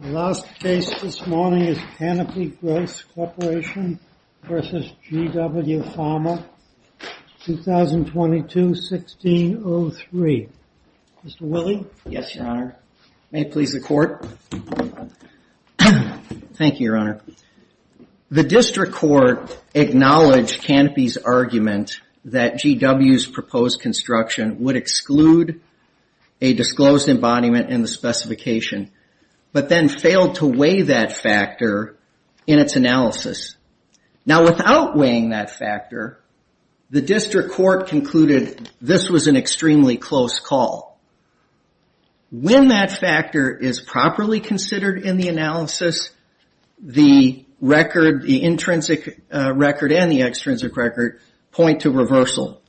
The last case this morning is Canopy Growth Corporation v. GW Pharma, 2022-1603. Mr. Willey? Yes, Your Honor. May it please the Court? Thank you, Your Honor. The District Court acknowledged Canopy's argument that GW's proposed construction would exclude a disclosed embodiment in the specification, but then failed to weigh that factor in its analysis. Now, without weighing that factor, the District Court concluded this was an extremely close call. When that factor is properly considered in the analysis, the intrinsic record and the extrinsic record point to reversal.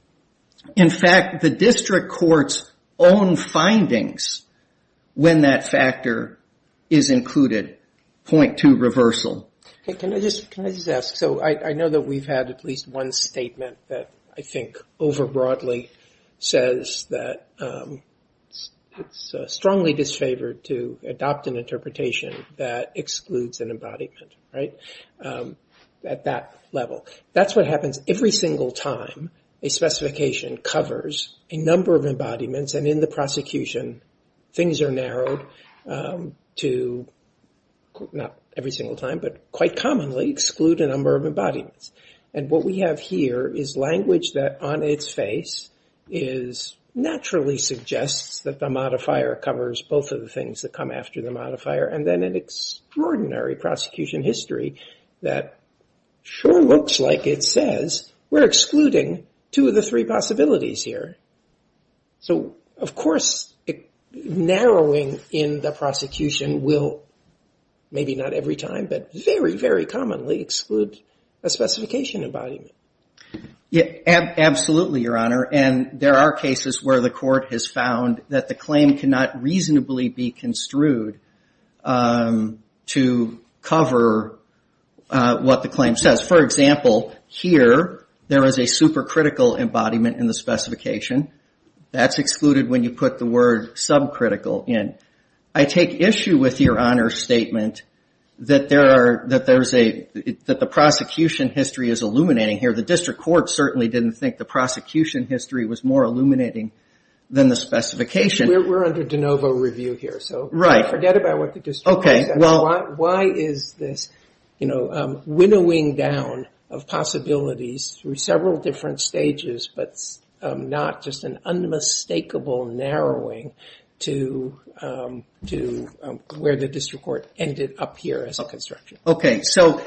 In fact, the District Court's own findings, when that factor is included, point to reversal. Can I just ask? So I know that we've had at least one statement that I think over broadly says that it's strongly disfavored to adopt an interpretation that excludes an embodiment, right? At that level. That's what happens every single time a specification covers a number of embodiments. And in the prosecution, things are narrowed to not every single time, but quite commonly exclude a number of embodiments. And what we have here is language that on its face is naturally suggests that the modifier covers both of the things that come after the modifier. And then an extraordinary prosecution history that sure looks like it says we're excluding two of the three possibilities here. So, of course, narrowing in the prosecution will maybe not every time, but very, very commonly exclude a specification embodiment. Yeah, absolutely, Your Honor. And there are cases where the court has found that the claim cannot reasonably be construed to cover what the claim says. For example, here, there is a supercritical embodiment in the specification that's excluded when you put the word subcritical in. I take issue with Your Honor's statement that the prosecution history is illuminating here. The district court certainly didn't think the prosecution history was more illuminating than the specification. We're under de novo review here, so forget about what the district court says. Why is this winnowing down of possibilities through several different stages, but not just an unmistakable narrowing to where the district court ended up here as a construction? Okay, so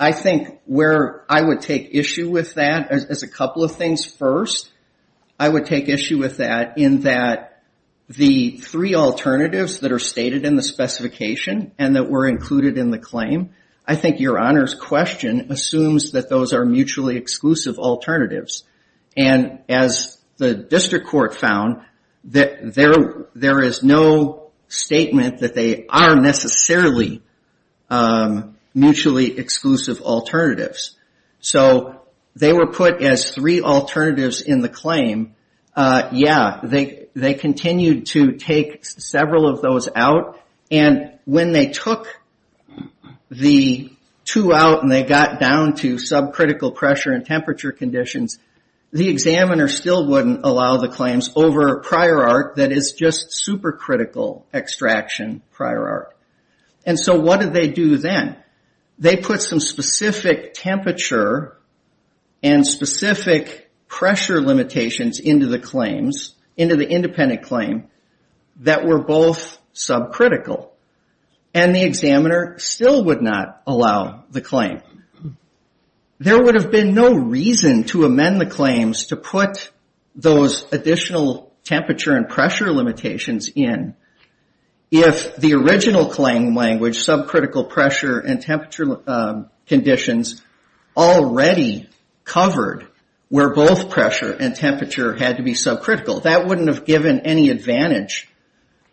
I think where I would take issue with that, as a couple of things first, I would take issue with that in that the three alternatives that are stated in the specification and that were included in the claim, I think Your Honor's question assumes that those are mutually exclusive alternatives. And as the district court found, there is no statement that they are necessarily mutually exclusive alternatives. So they were put as three alternatives in the claim. Yeah, they continued to take several of those out. And when they took the two out and they got down to subcritical pressure and temperature conditions, the examiner still wouldn't allow the claims over prior art that is just supercritical extraction prior art. And so what did they do then? They put some specific temperature and specific pressure limitations into the claims, that were both subcritical. And the examiner still would not allow the claim. There would have been no reason to amend the claims to put those additional temperature and pressure limitations in. If the original claim language, subcritical pressure and temperature conditions already covered, where both pressure and temperature had to be subcritical. That wouldn't have given any advantage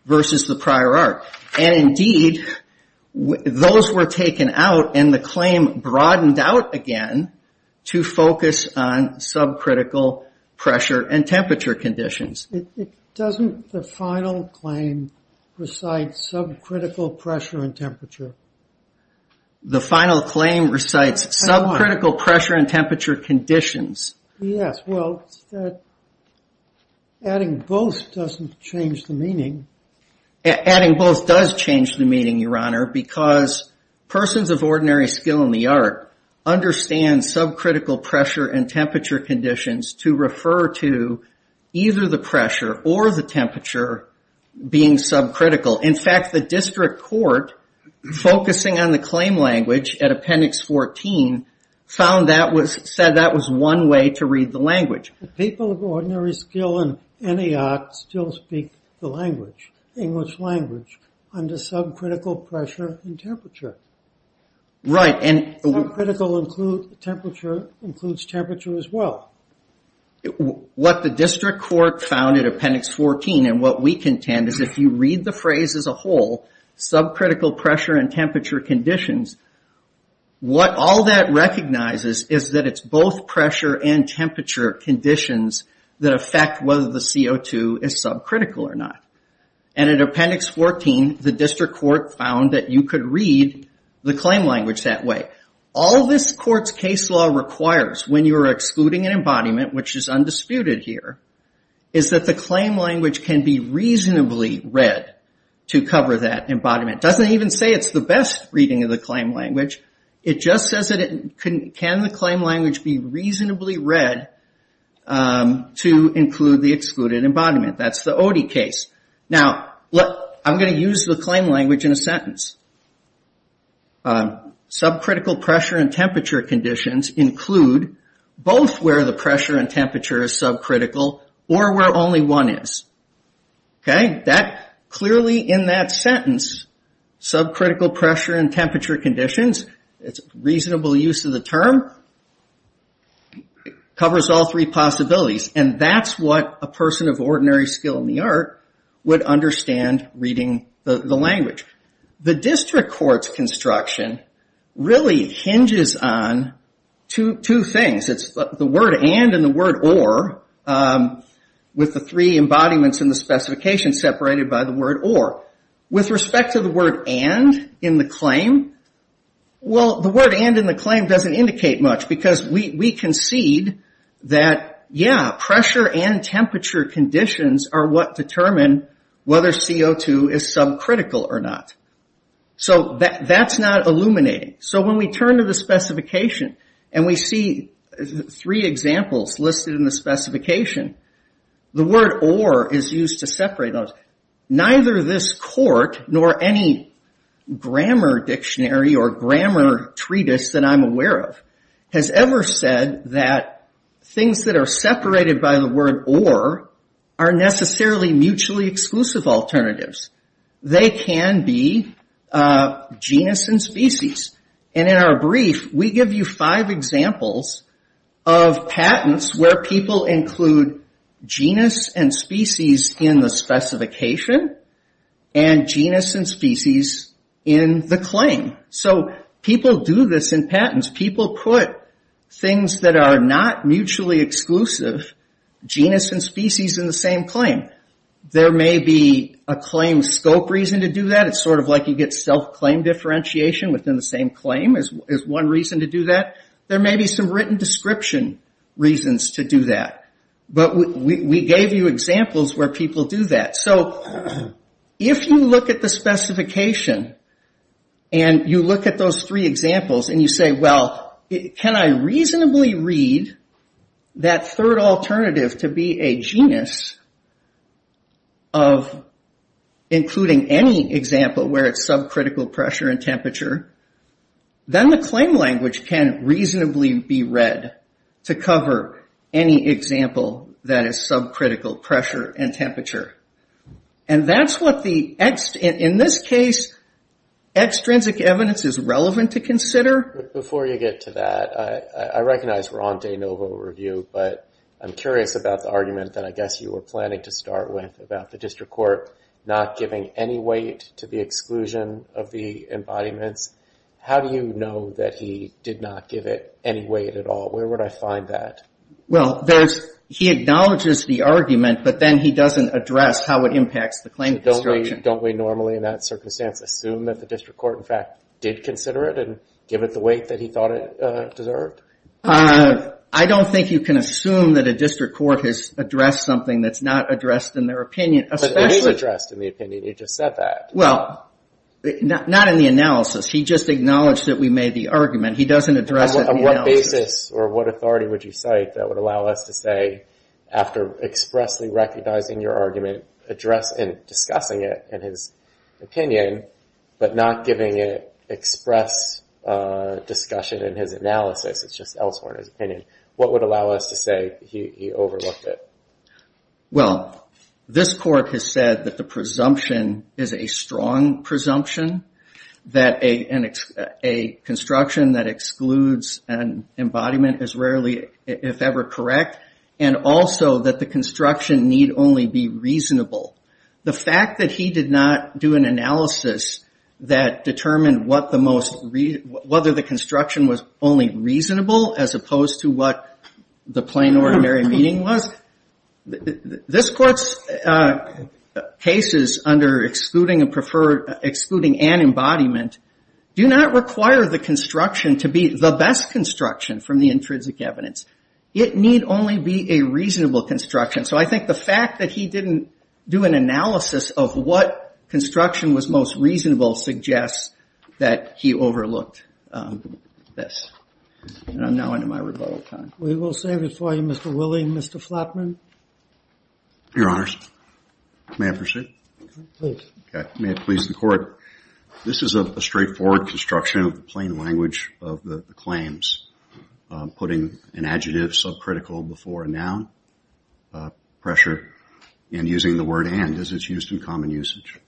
versus the prior art. And indeed, those were taken out and the claim broadened out again to focus on subcritical pressure and temperature conditions. It doesn't, the final claim recites subcritical pressure and temperature. The final claim recites subcritical pressure and temperature conditions. Yes, well, adding both doesn't change the meaning. Adding both does change the meaning, Your Honor, because persons of ordinary skill in the art understand subcritical pressure and temperature conditions to refer to either the pressure or the temperature being subcritical. In fact, the district court, focusing on the claim language at Appendix 14, found that was, said that was one way to read the language. People of ordinary skill in any art still speak the language, English language, under subcritical pressure and temperature. Right. And subcritical include temperature, includes temperature as well. What the district court found in Appendix 14 and what we contend is if you read the phrase as a whole, subcritical pressure and temperature conditions, what all that recognizes is that it's both pressure and temperature conditions that affect whether the CO2 is subcritical or not. And in Appendix 14, the district court found that you could read the claim language that way. All this court's case law requires when you are excluding an embodiment, which is undisputed here, is that the claim language can be reasonably read to cover that embodiment. Doesn't even say it's the best reading of the claim language. It just says that it can the claim language be reasonably read to include the excluded embodiment. That's the Odie case. Now, I'm going to use the claim language in a sentence. Subcritical pressure and temperature conditions include both where the pressure and temperature is subcritical or where only one is. Okay. That clearly in that sentence, subcritical pressure and temperature conditions, it's reasonable use of the term, covers all three possibilities. And that's what a person of ordinary skill in the art would understand reading the language. The district court's construction really hinges on two things. It's the word and and the word or with the three embodiments in the specification separated by the word or. With respect to the word and in the claim, well, the word and in the claim doesn't indicate much because we concede that, yeah, pressure and temperature conditions are what determine whether CO2 is subcritical or not. So that's not illuminating. So when we turn to the specification and we see three examples listed in the specification, the word or is used to separate those. Neither this court nor any grammar dictionary or grammar treatise that I'm aware of has ever said that things that are separated by the word or are necessarily mutually exclusive alternatives. They can be genus and species. And in our brief, we give you five examples of patents where people include genus and species in the specification and genus and species in the claim. So people do this in patents. People put things that are not mutually exclusive, genus and species in the same claim. There may be a claim scope reason to do that. It's sort of like you get self-claim differentiation within the same claim as one reason to do that. There may be some written description reasons to do that. But we gave you examples where people do that. So if you look at the specification and you look at those three examples and you say, well, can I reasonably read that third alternative to be a genus of including any example where it's subcritical pressure and temperature? Then the claim language can reasonably be read to cover any example that is subcritical pressure and temperature. And that's what the, in this case, extrinsic evidence is relevant to consider. Before you get to that, I recognize we're on de novo review. But I'm curious about the argument that I guess you were planning to start with about the district court not giving any weight to the exclusion of the embodiments. How do you know that he did not give it any weight at all? Where would I find that? Well, there's, he acknowledges the argument, but then he doesn't address how it impacts the claim construction. Don't we normally, in that circumstance, assume that the district court, in fact, did consider it and give it the weight that he thought it deserved? I don't think you can assume that a district court has addressed something that's not addressed in their opinion. But it is addressed in the opinion. He just said that. Well, not in the analysis. He just acknowledged that we made the argument. He doesn't address it in the analysis. On what basis or what authority would you cite that would allow us to say, after expressly recognizing your argument, address and discussing it in his opinion, but not giving it express discussion in his analysis, it's just elsewhere in his opinion. What would allow us to say he overlooked it? Well, this court has said that the presumption is a strong presumption. That a construction that excludes an embodiment is rarely, if ever, correct. And also that the construction need only be reasonable. The fact that he did not do an analysis that determined what the most, whether the construction was only reasonable as opposed to what the plain, ordinary meeting was. This court's cases under excluding and preferred, excluding an embodiment, do not require the construction to be the best construction from the intrinsic evidence. It need only be a reasonable construction. So I think the fact that he didn't do an analysis of what construction was most reasonable suggests that he overlooked this. And I'm now into my rebuttal time. We will save it for you, Mr. Willey and Mr. Flatman. Your honors. May I proceed? Please. May it please the court. This is a straightforward construction of the plain language of the claims. Putting an adjective subcritical before a noun, pressure, and using the word and as it's used in common usage.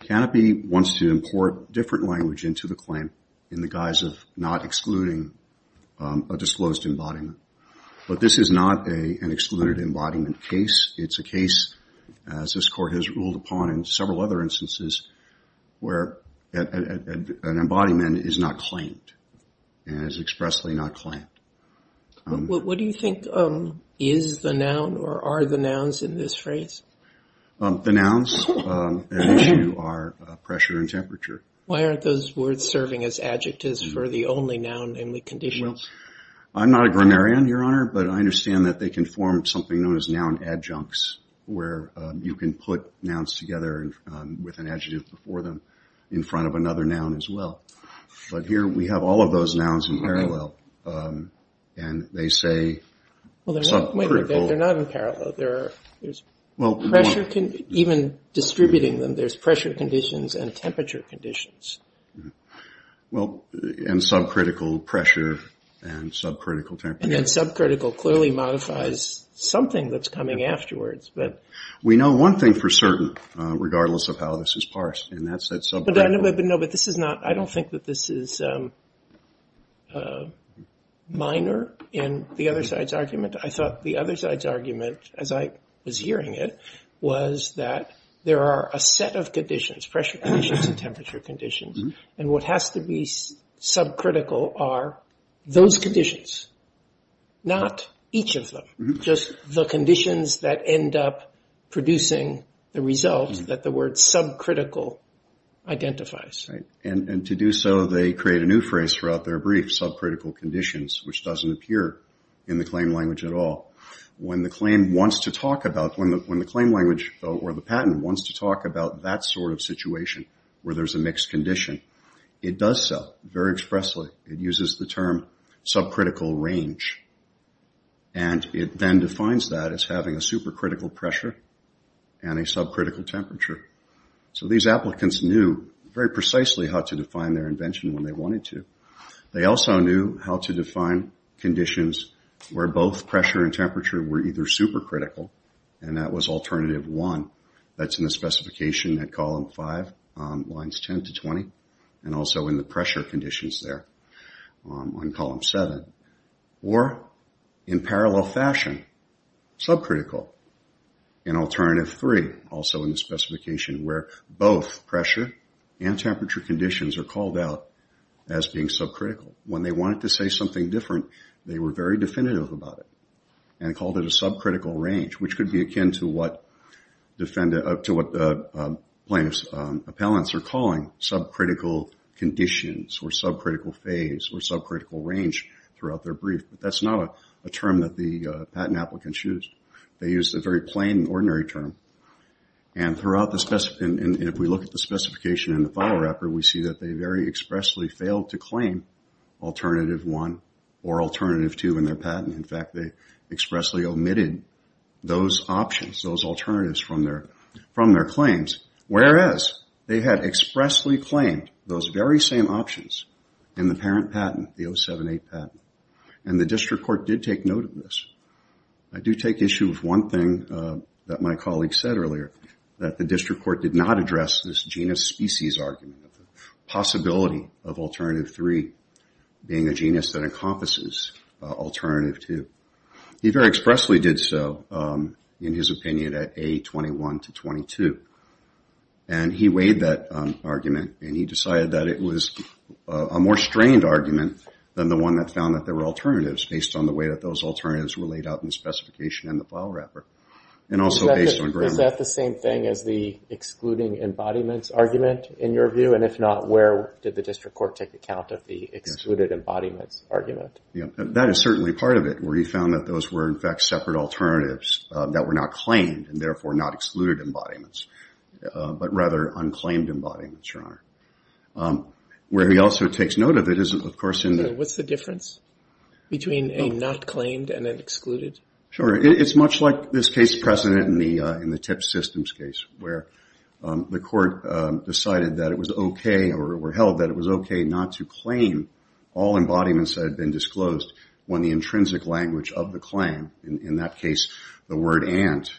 Canopy wants to import different language into the claim in the guise of not excluding a disclosed embodiment. But this is not an excluded embodiment case. It's a case, as this court has ruled upon in several other instances, where an embodiment is not claimed, and is expressly not claimed. What do you think is the noun or are the nouns in this phrase? The nouns at issue are pressure and temperature. Why aren't those words serving as adjectives for the only noun in the conditions? I'm not a grammarian, your honor, but I understand that they can form something known as noun adjuncts, where you can put nouns together with an adjective before them in front of another noun as well. But here we have all of those nouns in parallel, and they say subcritical. They're not in parallel. There's pressure, even distributing them, there's pressure conditions and temperature conditions. Well, and subcritical pressure and subcritical temperature. And then subcritical clearly modifies something that's coming afterwards. But we know one thing for certain, regardless of how this is parsed, and that's that subcritical. But I don't think that this is minor in the other side's argument. I thought the other side's argument, as I was hearing it, was that there are a set of conditions, pressure conditions and temperature conditions, and what has to be subcritical are those conditions, not each of them, just the conditions that end up producing the result that the word subcritical identifies. And to do so, they create a new phrase throughout their brief, subcritical conditions, which doesn't appear in the claim language at all. When the claim language or the patent wants to talk about that sort of situation, where there's a mixed condition, it does so very expressly. It uses the term subcritical range. And it then defines that as having a supercritical pressure and a subcritical temperature. So these applicants knew very precisely how to define their invention when they wanted to. They also knew how to define conditions where both pressure and temperature were either supercritical, and that was alternative 1, that's in the specification at column 5, lines 10 to 20, and also in the pressure conditions there on column 7. Or in parallel fashion, subcritical in alternative 3, also in the specification where both pressure and temperature conditions are called out as being subcritical. When they wanted to say something different, they were very definitive about it and called it a subcritical range, which could be akin to what plaintiff's appellants are calling subcritical conditions or subcritical phase or subcritical range throughout their brief. But that's not a term that the patent applicants use. They use the very plain, ordinary term. And if we look at the specification in the file wrapper, we see that they very expressly failed to claim alternative 1 or alternative 2 in their patent. In fact, they expressly omitted those options, those alternatives from their claims, whereas they had expressly claimed those very same options in the parent patent, the 078 patent. And the district court did take note of this. I do take issue with one thing that my colleague said earlier, that the district court did not address this genus species argument, possibility of alternative 3 being a genus that encompasses alternative 2. He very expressly did so in his opinion at A21 to 22. And he weighed that argument and he decided that it was a more strained argument than the one that found that there were alternatives based on the way that those alternatives were laid out in the specification in the file wrapper. And also based on grammar. Is that the same thing as the excluding embodiments argument in your view? And if not, where did the district court take account of the excluded embodiments argument? Yeah, that is certainly part of it, where he found that those were in fact separate alternatives that were not claimed and therefore not excluded embodiments, but rather unclaimed embodiments, Your Honor. Where he also takes note of it is, of course, in the... Between a not claimed and an excluded? Sure. It's much like this case precedent in the TIP systems case, where the court decided that it was okay or held that it was okay not to claim all embodiments that had been disclosed when the intrinsic language of the claim, in that case, the word and,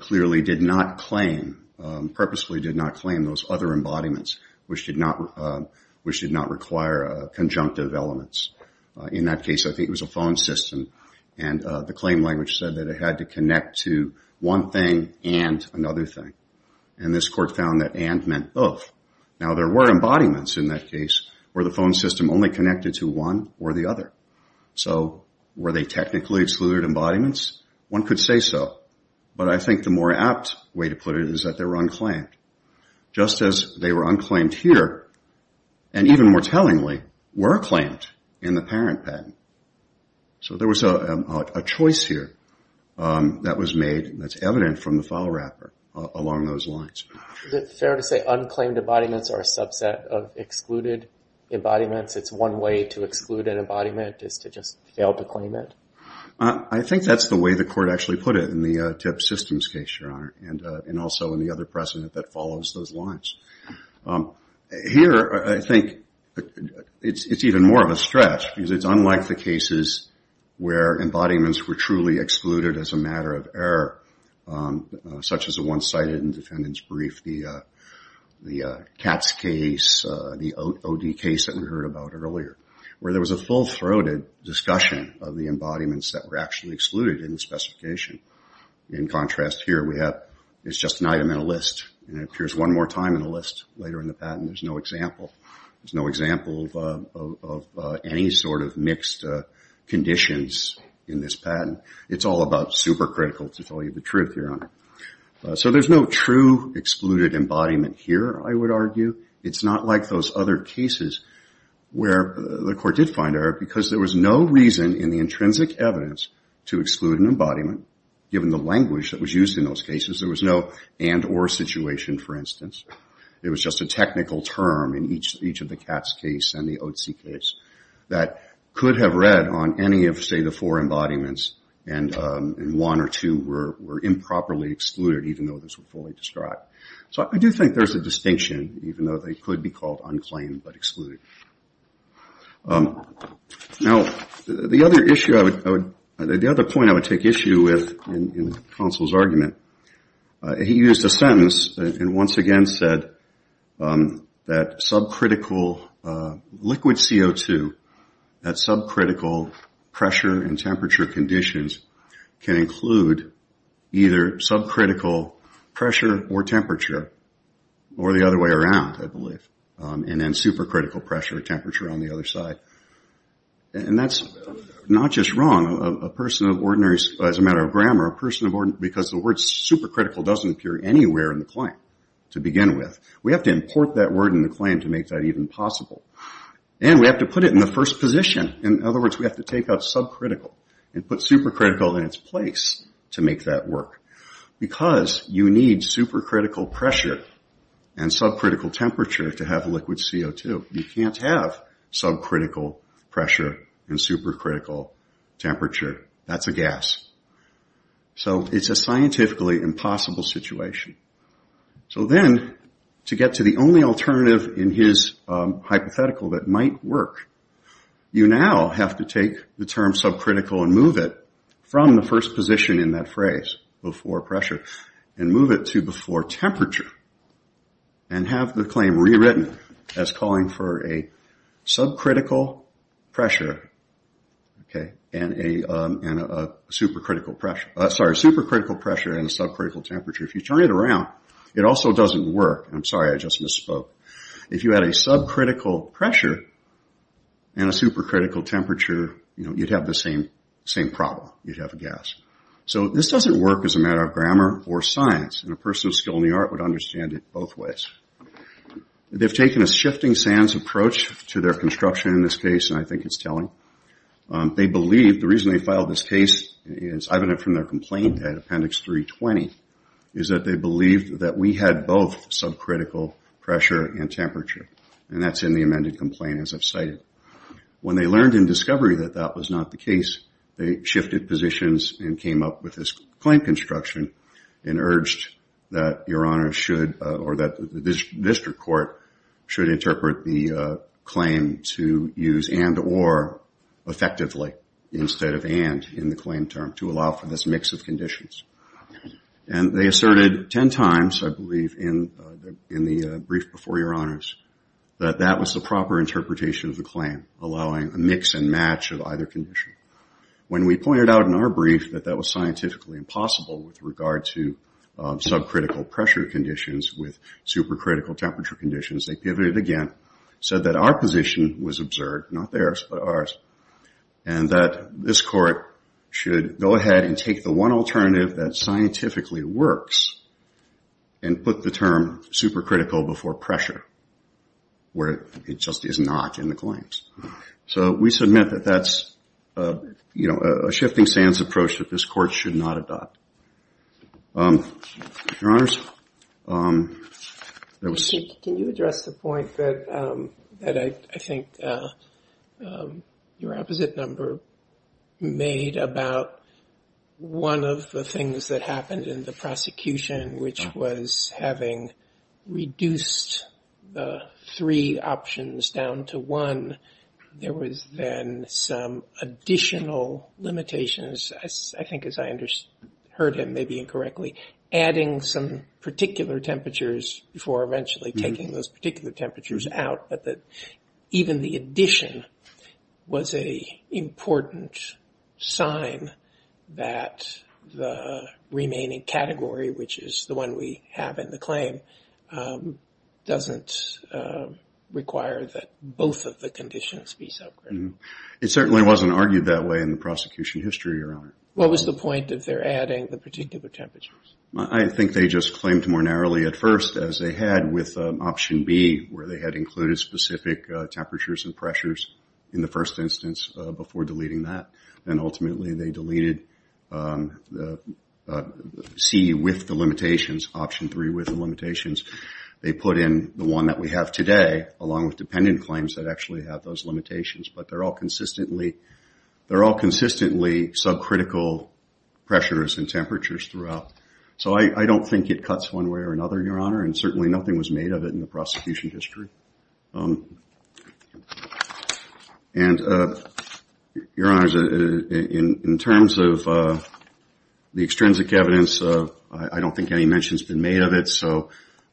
clearly did not claim, purposefully did not claim those other embodiments, which did not require conjunctive elements. In that case, I think it was a phone system, and the claim language said that it had to connect to one thing and another thing. And this court found that and meant both. Now, there were embodiments in that case, where the phone system only connected to one or the other. So, were they technically excluded embodiments? One could say so. But I think the more apt way to put it is that they were unclaimed. Just as they were unclaimed here, and even more tellingly, were claimed in the parent patent. So, there was a choice here that was made that's evident from the file wrapper along those lines. Is it fair to say unclaimed embodiments are a subset of excluded embodiments? It's one way to exclude an embodiment is to just fail to claim it? I think that's the way the court actually put it in the TIP systems case, Your Honor, and also in the other precedent that follows those lines. Here, I think it's even more of a stretch, because it's unlike the cases where embodiments were truly excluded as a matter of error, such as the one cited in the defendant's brief, the CATS case, the OD case that we heard about earlier, where there was a full-throated discussion of the embodiments that were actually excluded in the specification. In contrast here, it's just an item in a list, and it appears one more time in a list later in the patent. There's no example of any sort of mixed conditions in this patent. It's all about supercritical, to tell you the truth, Your Honor. So, there's no true excluded embodiment here, I would argue. It's not like those other cases where the court did find error, because there was no reason in the intrinsic evidence to exclude an embodiment, given the language that was used in those cases. There was no and or situation, for instance. It was just a technical term in each of the CATS case and the ODC case that could have read on any of, say, the four embodiments, and one or two were improperly excluded, even though this was fully described. So, I do think there's a distinction, even though they could be called unclaimed but excluded. Now, the other point I would take issue with in the counsel's argument, he used a sentence and once again said that subcritical liquid CO2, that subcritical pressure and temperature conditions, can include either subcritical pressure or temperature, or the other way around, I believe, and then supercritical pressure or temperature on the other side. And that's not just wrong, as a matter of grammar, because the word supercritical doesn't appear anywhere in the claim to begin with. We have to import that word in the claim to make that even possible. And we have to put it in the first position. In other words, we have to take out subcritical and put supercritical in its place to make that work. Because you need supercritical pressure and subcritical temperature to have liquid CO2. You can't have subcritical pressure and supercritical temperature. That's a gas. So, it's a scientifically impossible situation. So then, to get to the only alternative in his hypothetical that might work, you now have to take the term subcritical and move it from the first position in that phrase, before pressure, and move it to before temperature, and have the claim rewritten as calling for a subcritical pressure and a supercritical pressure. Sorry, supercritical pressure and subcritical temperature. If you turn it around, it also doesn't work. I'm sorry, I just misspoke. If you had a subcritical pressure and a supercritical temperature, you'd have the same problem. You'd have a gas. So, this doesn't work as a matter of grammar or science, and a person with skill in the art would understand it both ways. They've taken a shifting sands approach to their construction in this case, and I think it's telling. They believe, the reason they filed this case is evident from their complaint at Appendix 320, is that they believed that we had both subcritical pressure and temperature, and that's in the amended complaint, as I've cited. When they learned in discovery that that was not the case, they shifted positions and came up with this claim construction, and urged that your honor should, or that the district court, should interpret the claim to use and or effectively, instead of and in the claim term, to allow for this mix of conditions. And they asserted 10 times, I believe, in the brief before your honors, that that was the proper interpretation of the claim, allowing a mix and match of either condition. When we pointed out in our brief that that was scientifically impossible with regard to subcritical pressure conditions with supercritical temperature conditions, they pivoted again, said that our position was absurd, not theirs, but ours. And that this court should go ahead and take the one alternative that scientifically works, and put the term supercritical before pressure, where it just is not in the claims. So, we submit that that's a shifting stance approach that this court should not adopt. Your honors, there was- Your opposite number made about one of the things that happened in the prosecution, which was having reduced the three options down to one. There was then some additional limitations, I think as I heard him, maybe incorrectly, adding some particular temperatures before eventually taking those particular temperatures out. But that even the addition was an important sign that the remaining category, which is the one we have in the claim, doesn't require that both of the conditions be subcritical. It certainly wasn't argued that way in the prosecution history, your honor. What was the point of their adding the particular temperatures? I think they just claimed more narrowly at first, as they had with option B, where they had included specific temperatures and pressures in the first instance before deleting that. And ultimately, they deleted C with the limitations, option three with the limitations. They put in the one that we have today, along with dependent claims that actually have those limitations. But they're all consistently subcritical pressures and temperatures throughout. So, I don't think it cuts one way or another, your honor. And certainly, nothing was made of it in the prosecution history. And your honors, in terms of the extrinsic evidence, I don't think any mention has been made of it. So,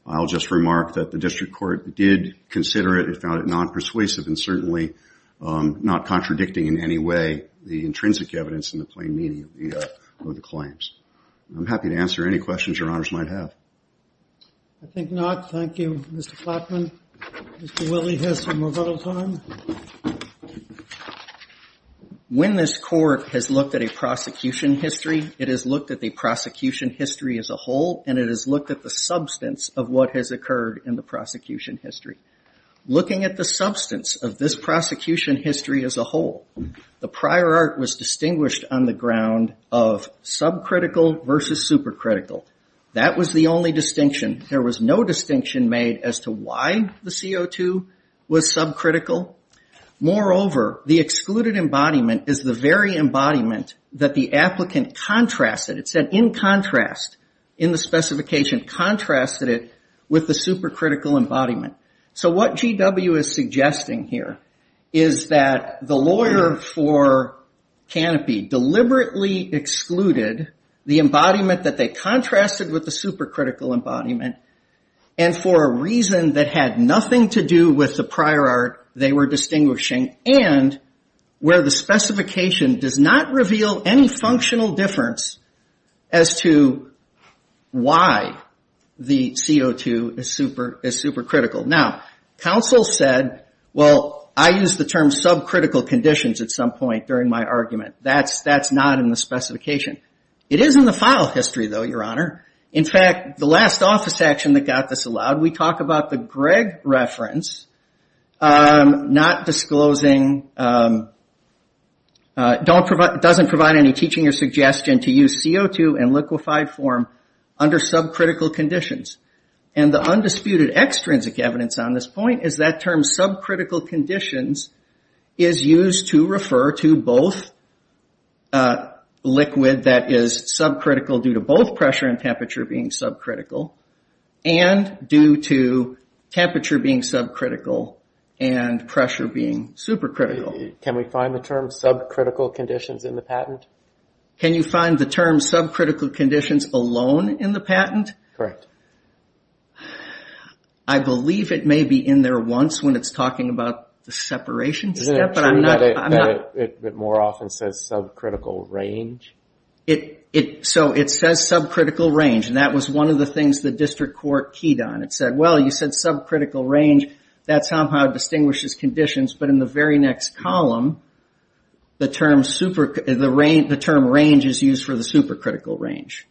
I'll just remark that the district court did consider it and found it non-persuasive and certainly not contradicting in any way the intrinsic evidence in the plain meaning of the claims. I'm happy to answer any questions your honors might have. I think not. Thank you, Mr. Plotman. Mr. Willey has some rebuttal time. When this court has looked at a prosecution history, it has looked at the prosecution history as a whole, and it has looked at the substance of what has occurred in the prosecution history. Looking at the substance of this prosecution history as a whole, the prior art was distinguished on the ground of subcritical versus supercritical. That was the only distinction. There was no distinction made as to why the CO2 was subcritical. Moreover, the excluded embodiment is the very embodiment that the applicant contrasted. It said, in contrast, in the specification, contrasted it with the supercritical embodiment. So, what GW is suggesting here is that the lawyer for Canopy deliberately excluded the embodiment that they contrasted with the supercritical embodiment, and for a reason that had nothing to do with the prior art they were distinguishing, and where the specification does not reveal any functional difference as to why the CO2 is supercritical. Now, counsel said, well, I used the term subcritical conditions at some point during my argument. That's not in the specification. It is in the file history, though, Your Honor. In fact, the last office action that got this allowed, we talk about the Gregg reference, not disclosing, doesn't provide any teaching or suggestion to use CO2 in liquefied form under subcritical conditions. The undisputed extrinsic evidence on this point is that term subcritical conditions is used to refer to both a liquid that is subcritical due to both pressure and temperature being subcritical, and due to temperature being subcritical and pressure being supercritical. Can we find the term subcritical conditions in the patent? Can you find the term subcritical conditions alone in the patent? Correct. I believe it may be in there once when it's talking about the separation step. Isn't it true that it more often says subcritical range? So it says subcritical range. And that was one of the things the district court keyed on. It said, well, you said subcritical range. That somehow distinguishes conditions. But in the very next column, the term range is used for the supercritical range.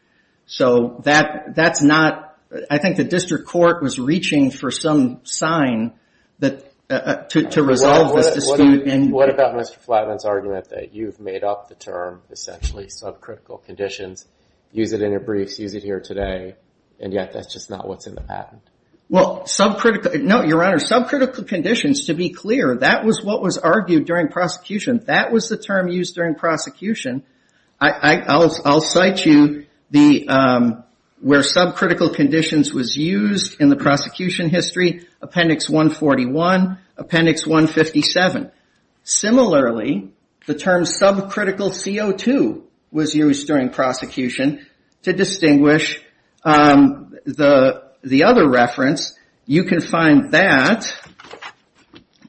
So that's not, I think the district court was reaching for some sign to resolve this dispute. What about Mr. Flatman's argument that you've made up the term essentially subcritical conditions, use it in your briefs, use it here today, and yet that's just not what's in the patent? Well, subcritical, no, your honor, subcritical conditions, to be clear, that was what was argued during prosecution. That was the term used during prosecution. I'll cite you where subcritical conditions was used in the prosecution history, appendix 141, appendix 157. Similarly, the term subcritical CO2 was used during prosecution. To distinguish the other reference, you can find that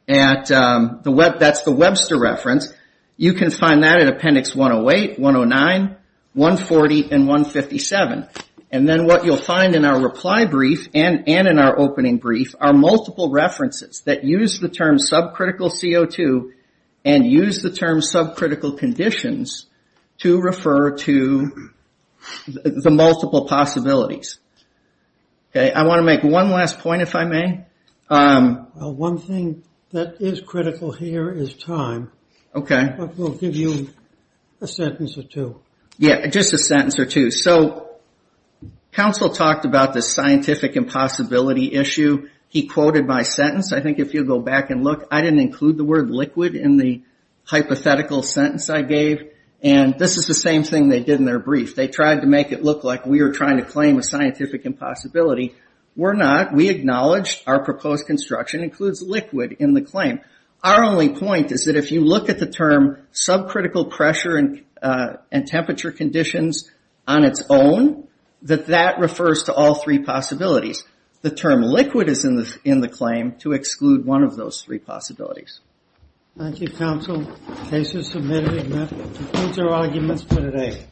at, that's the Webster reference. You can find that at appendix 108, 109, 140, and 157. And then what you'll find in our reply brief and in our opening brief are multiple references that use the term subcritical CO2 and use the term subcritical conditions to refer to the multiple possibilities. I want to make one last point, if I may. One thing that is critical here is time. Okay. We'll give you a sentence or two. Yeah, just a sentence or two. So, counsel talked about the scientific impossibility issue. He quoted my sentence. I think if you'll go back and look, I didn't include the word liquid in the hypothetical sentence I gave, and this is the same thing they did in their brief. They tried to make it look like we were trying to claim a scientific impossibility. We're not. We acknowledged our proposed construction includes liquid in the claim. Our only point is that if you look at the term subcritical pressure and temperature conditions on its own, that that refers to all three possibilities. The term liquid is in the claim to exclude one of those three possibilities. Thank you, counsel. Case is submitted. And that concludes our arguments for today.